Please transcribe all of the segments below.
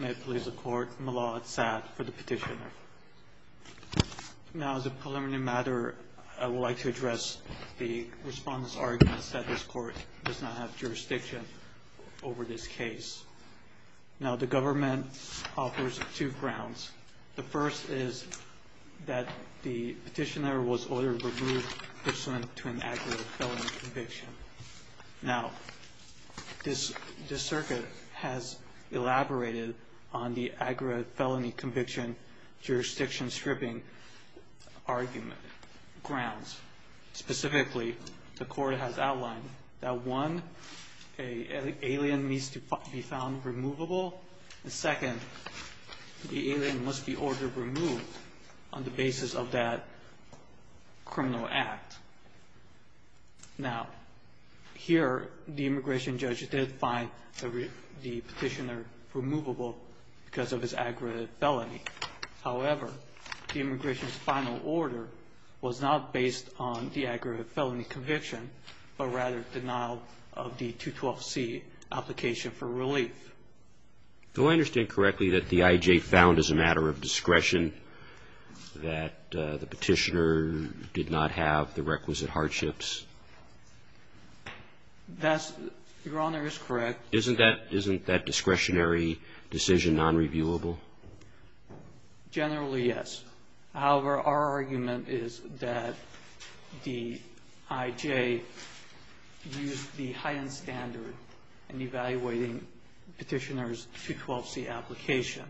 May it please the Court, Malad Saad for the Petitioner. Now as a preliminary matter, I would like to address the Respondent's arguments that this Court does not have jurisdiction over this case. Now the Government offers two grounds. The first is that the Petitioner was ordered removed pursuant to an accurate felony conviction. Now this Circuit has elaborated on the accurate felony conviction jurisdiction stripping grounds. Specifically, the Court has outlined that one, an alien needs to be found removable. And second, the alien must be ordered removed on the basis of that criminal act. Now here, the immigration judge did find the Petitioner removable because of his accurate felony. However, the immigration's final order was not based on the accurate felony conviction, but rather denial of the 212C application for relief. Do I understand correctly that the I.J. found as a matter of discretion that the Petitioner did not have the requisite hardships? That's, Your Honor, is correct. Isn't that discretionary decision nonreviewable? Generally, yes. However, our argument is that the I.J. used the high-end standard in evaluating Petitioner's 212C application.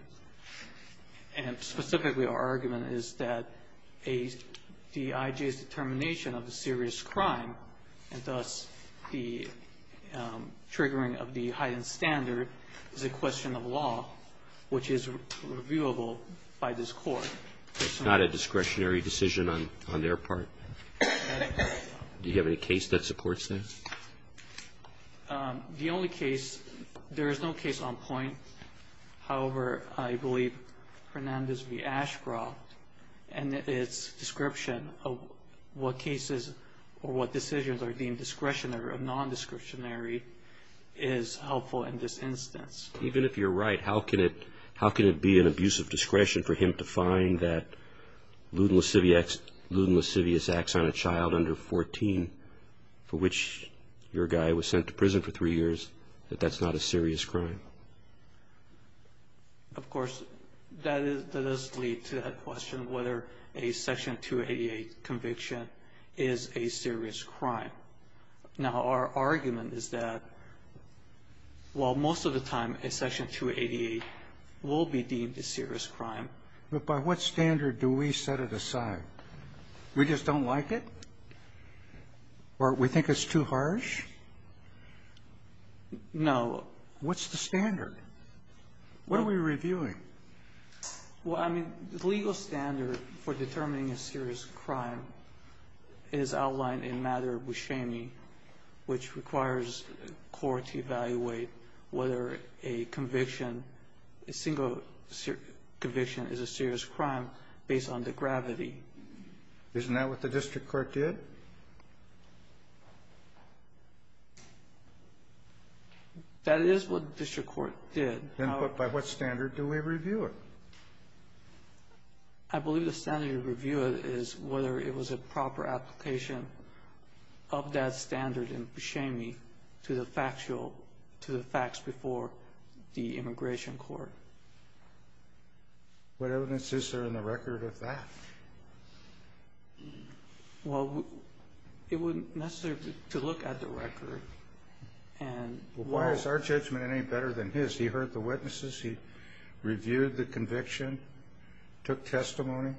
And specifically, our argument is that the I.J.'s determination of a serious crime and thus the triggering of the high-end standard is a question of law, which is reviewable by this Court. It's not a discretionary decision on their part? Do you have any case that supports that? The only case, there is no case on point. However, I believe Fernandez v. Ashcroft and its description of what cases or what decisions are deemed discretionary or nondescriptionary is helpful in this instance. Even if you're right, how can it be an abuse of discretion for him to find that Luden Lascivious Acts on a Child Under 14, for which your guy was sent to prison for three years, that that's not a serious crime? Of course, that does lead to that question, whether a Section 288 conviction is a serious crime. Now, our argument is that while most of the time a Section 288 will be deemed a serious crime. But by what standard do we set it aside? We just don't like it? Or we think it's too harsh? No. What's the standard? What are we reviewing? Well, I mean, the legal standard for determining a serious crime is outlined in Mater Buscemi, which requires the Court to evaluate whether a conviction, a single conviction is a serious crime based on the gravity. Isn't that what the district court did? That is what the district court did. Then by what standard do we review it? I believe the standard to review it is whether it was a proper application of that standard in Buscemi to the factual, to the facts before the immigration court. What evidence is there in the record of that? Well, it wouldn't necessarily be to look at the record. Well, why is our judgment any better than his? He heard the witnesses. He reviewed the conviction, took testimony.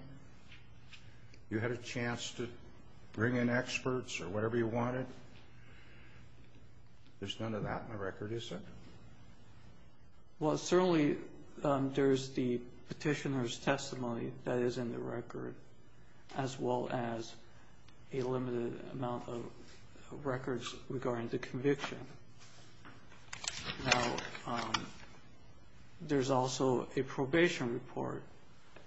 You had a chance to bring in experts or whatever you wanted. There's none of that in the record, is there? Well, certainly there's the petitioner's testimony that is in the record as well as a limited amount of records regarding the conviction. Now, there's also a probation report,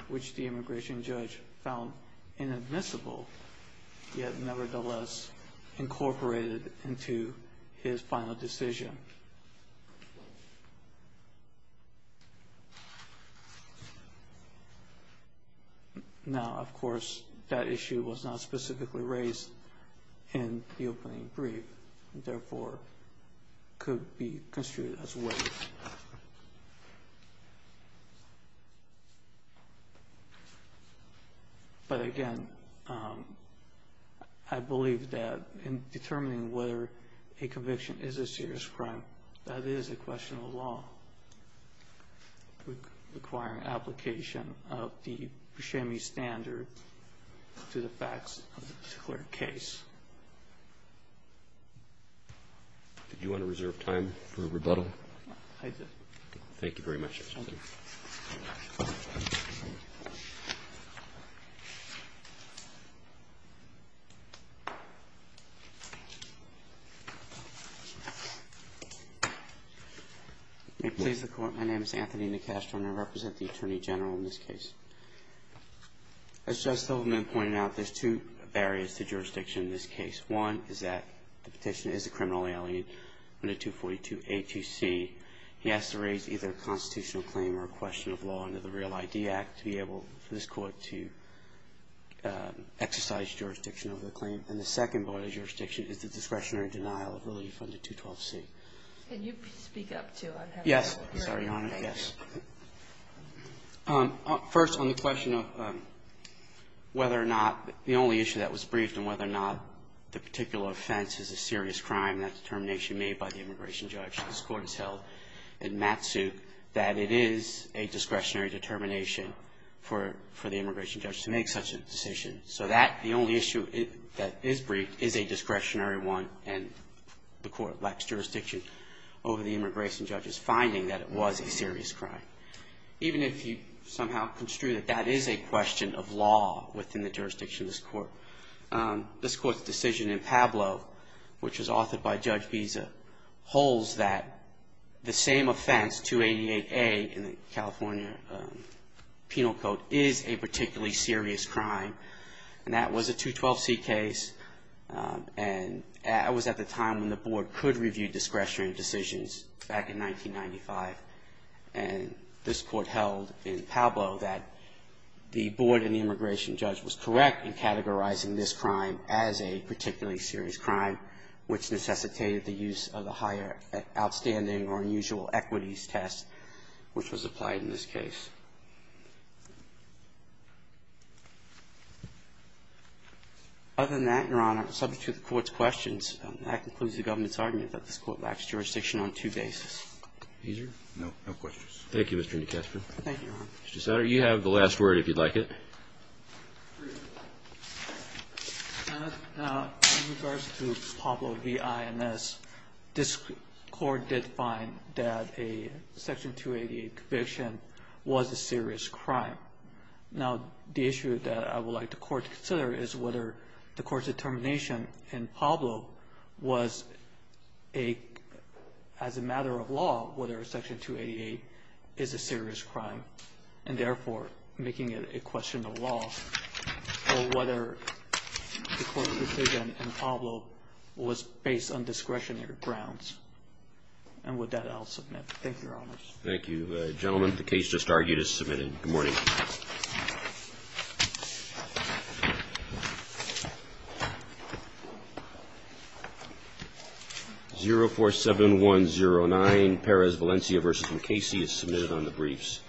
which the immigration judge found inadmissible, yet nevertheless incorporated into his final decision. Now, of course, that issue was not specifically raised in the opening brief and therefore could be construed as weight. But again, I believe that in determining whether a conviction is a serious crime, that is a question of law requiring application of the Buscemi standard to the facts of the particular case. Did you want to reserve time for rebuttal? I did. Thank you very much, Justice. May it please the Court, my name is Anthony Nicastro and I represent the Attorney General in this case. As Justice Hoffman pointed out, there's two barriers to jurisdiction in this case. One is that the petitioner is a criminal alien under 242A2C. He has to raise either a constitutional claim or a question of law under the Real ID Act to be able for this Court to exercise jurisdiction over the claim. And the second bar of jurisdiction is the discretionary denial of liability from the 212C. Can you speak up too? Yes. Sorry, Your Honor. Yes. First, on the question of whether or not the only issue that was briefed and whether or not the particular offense is a serious crime, that determination made by the immigration judge, this Court has held in Matsuk that it is a discretionary determination for the immigration judge to make such a decision. So that, the only issue that is briefed is a discretionary one and the Court lacks jurisdiction over the immigration judge's finding that it was a serious crime. Even if you somehow construe that that is a question of law within the jurisdiction of this Court, this Court's decision in Pablo, which was authored by Judge Biza, holds that the same offense, 288A in the California Penal Code, is a particularly serious crime. And that was a 212C case. And that was at the time when the Board could review discretionary decisions back in 1995. And this Court held in Pablo that the Board and the immigration judge was correct in categorizing this crime as a particularly serious crime, which necessitated the use of a higher outstanding or unusual equities test, which was applied in this case. Other than that, Your Honor, subject to the Court's questions, that concludes the government's argument that this Court lacks jurisdiction on two bases. No questions. Thank you, Mr. Newcastle. Thank you, Your Honor. Mr. Satter, you have the last word, if you'd like it. In regards to Pablo v. INS, this Court did find that a Section 288 conviction was a serious crime. Now, the issue that I would like the Court to consider is whether the Court's determination in Pablo was a, as a matter of law, whether Section 288 is a serious crime, and therefore making it a question of law, or whether the Court's decision in Pablo was based on discretionary grounds. Thank you, Your Honor. Thank you, gentlemen. The case just argued is submitted. Good morning. 047109, Perez, Valencia v. McCasey, is submitted on the briefs.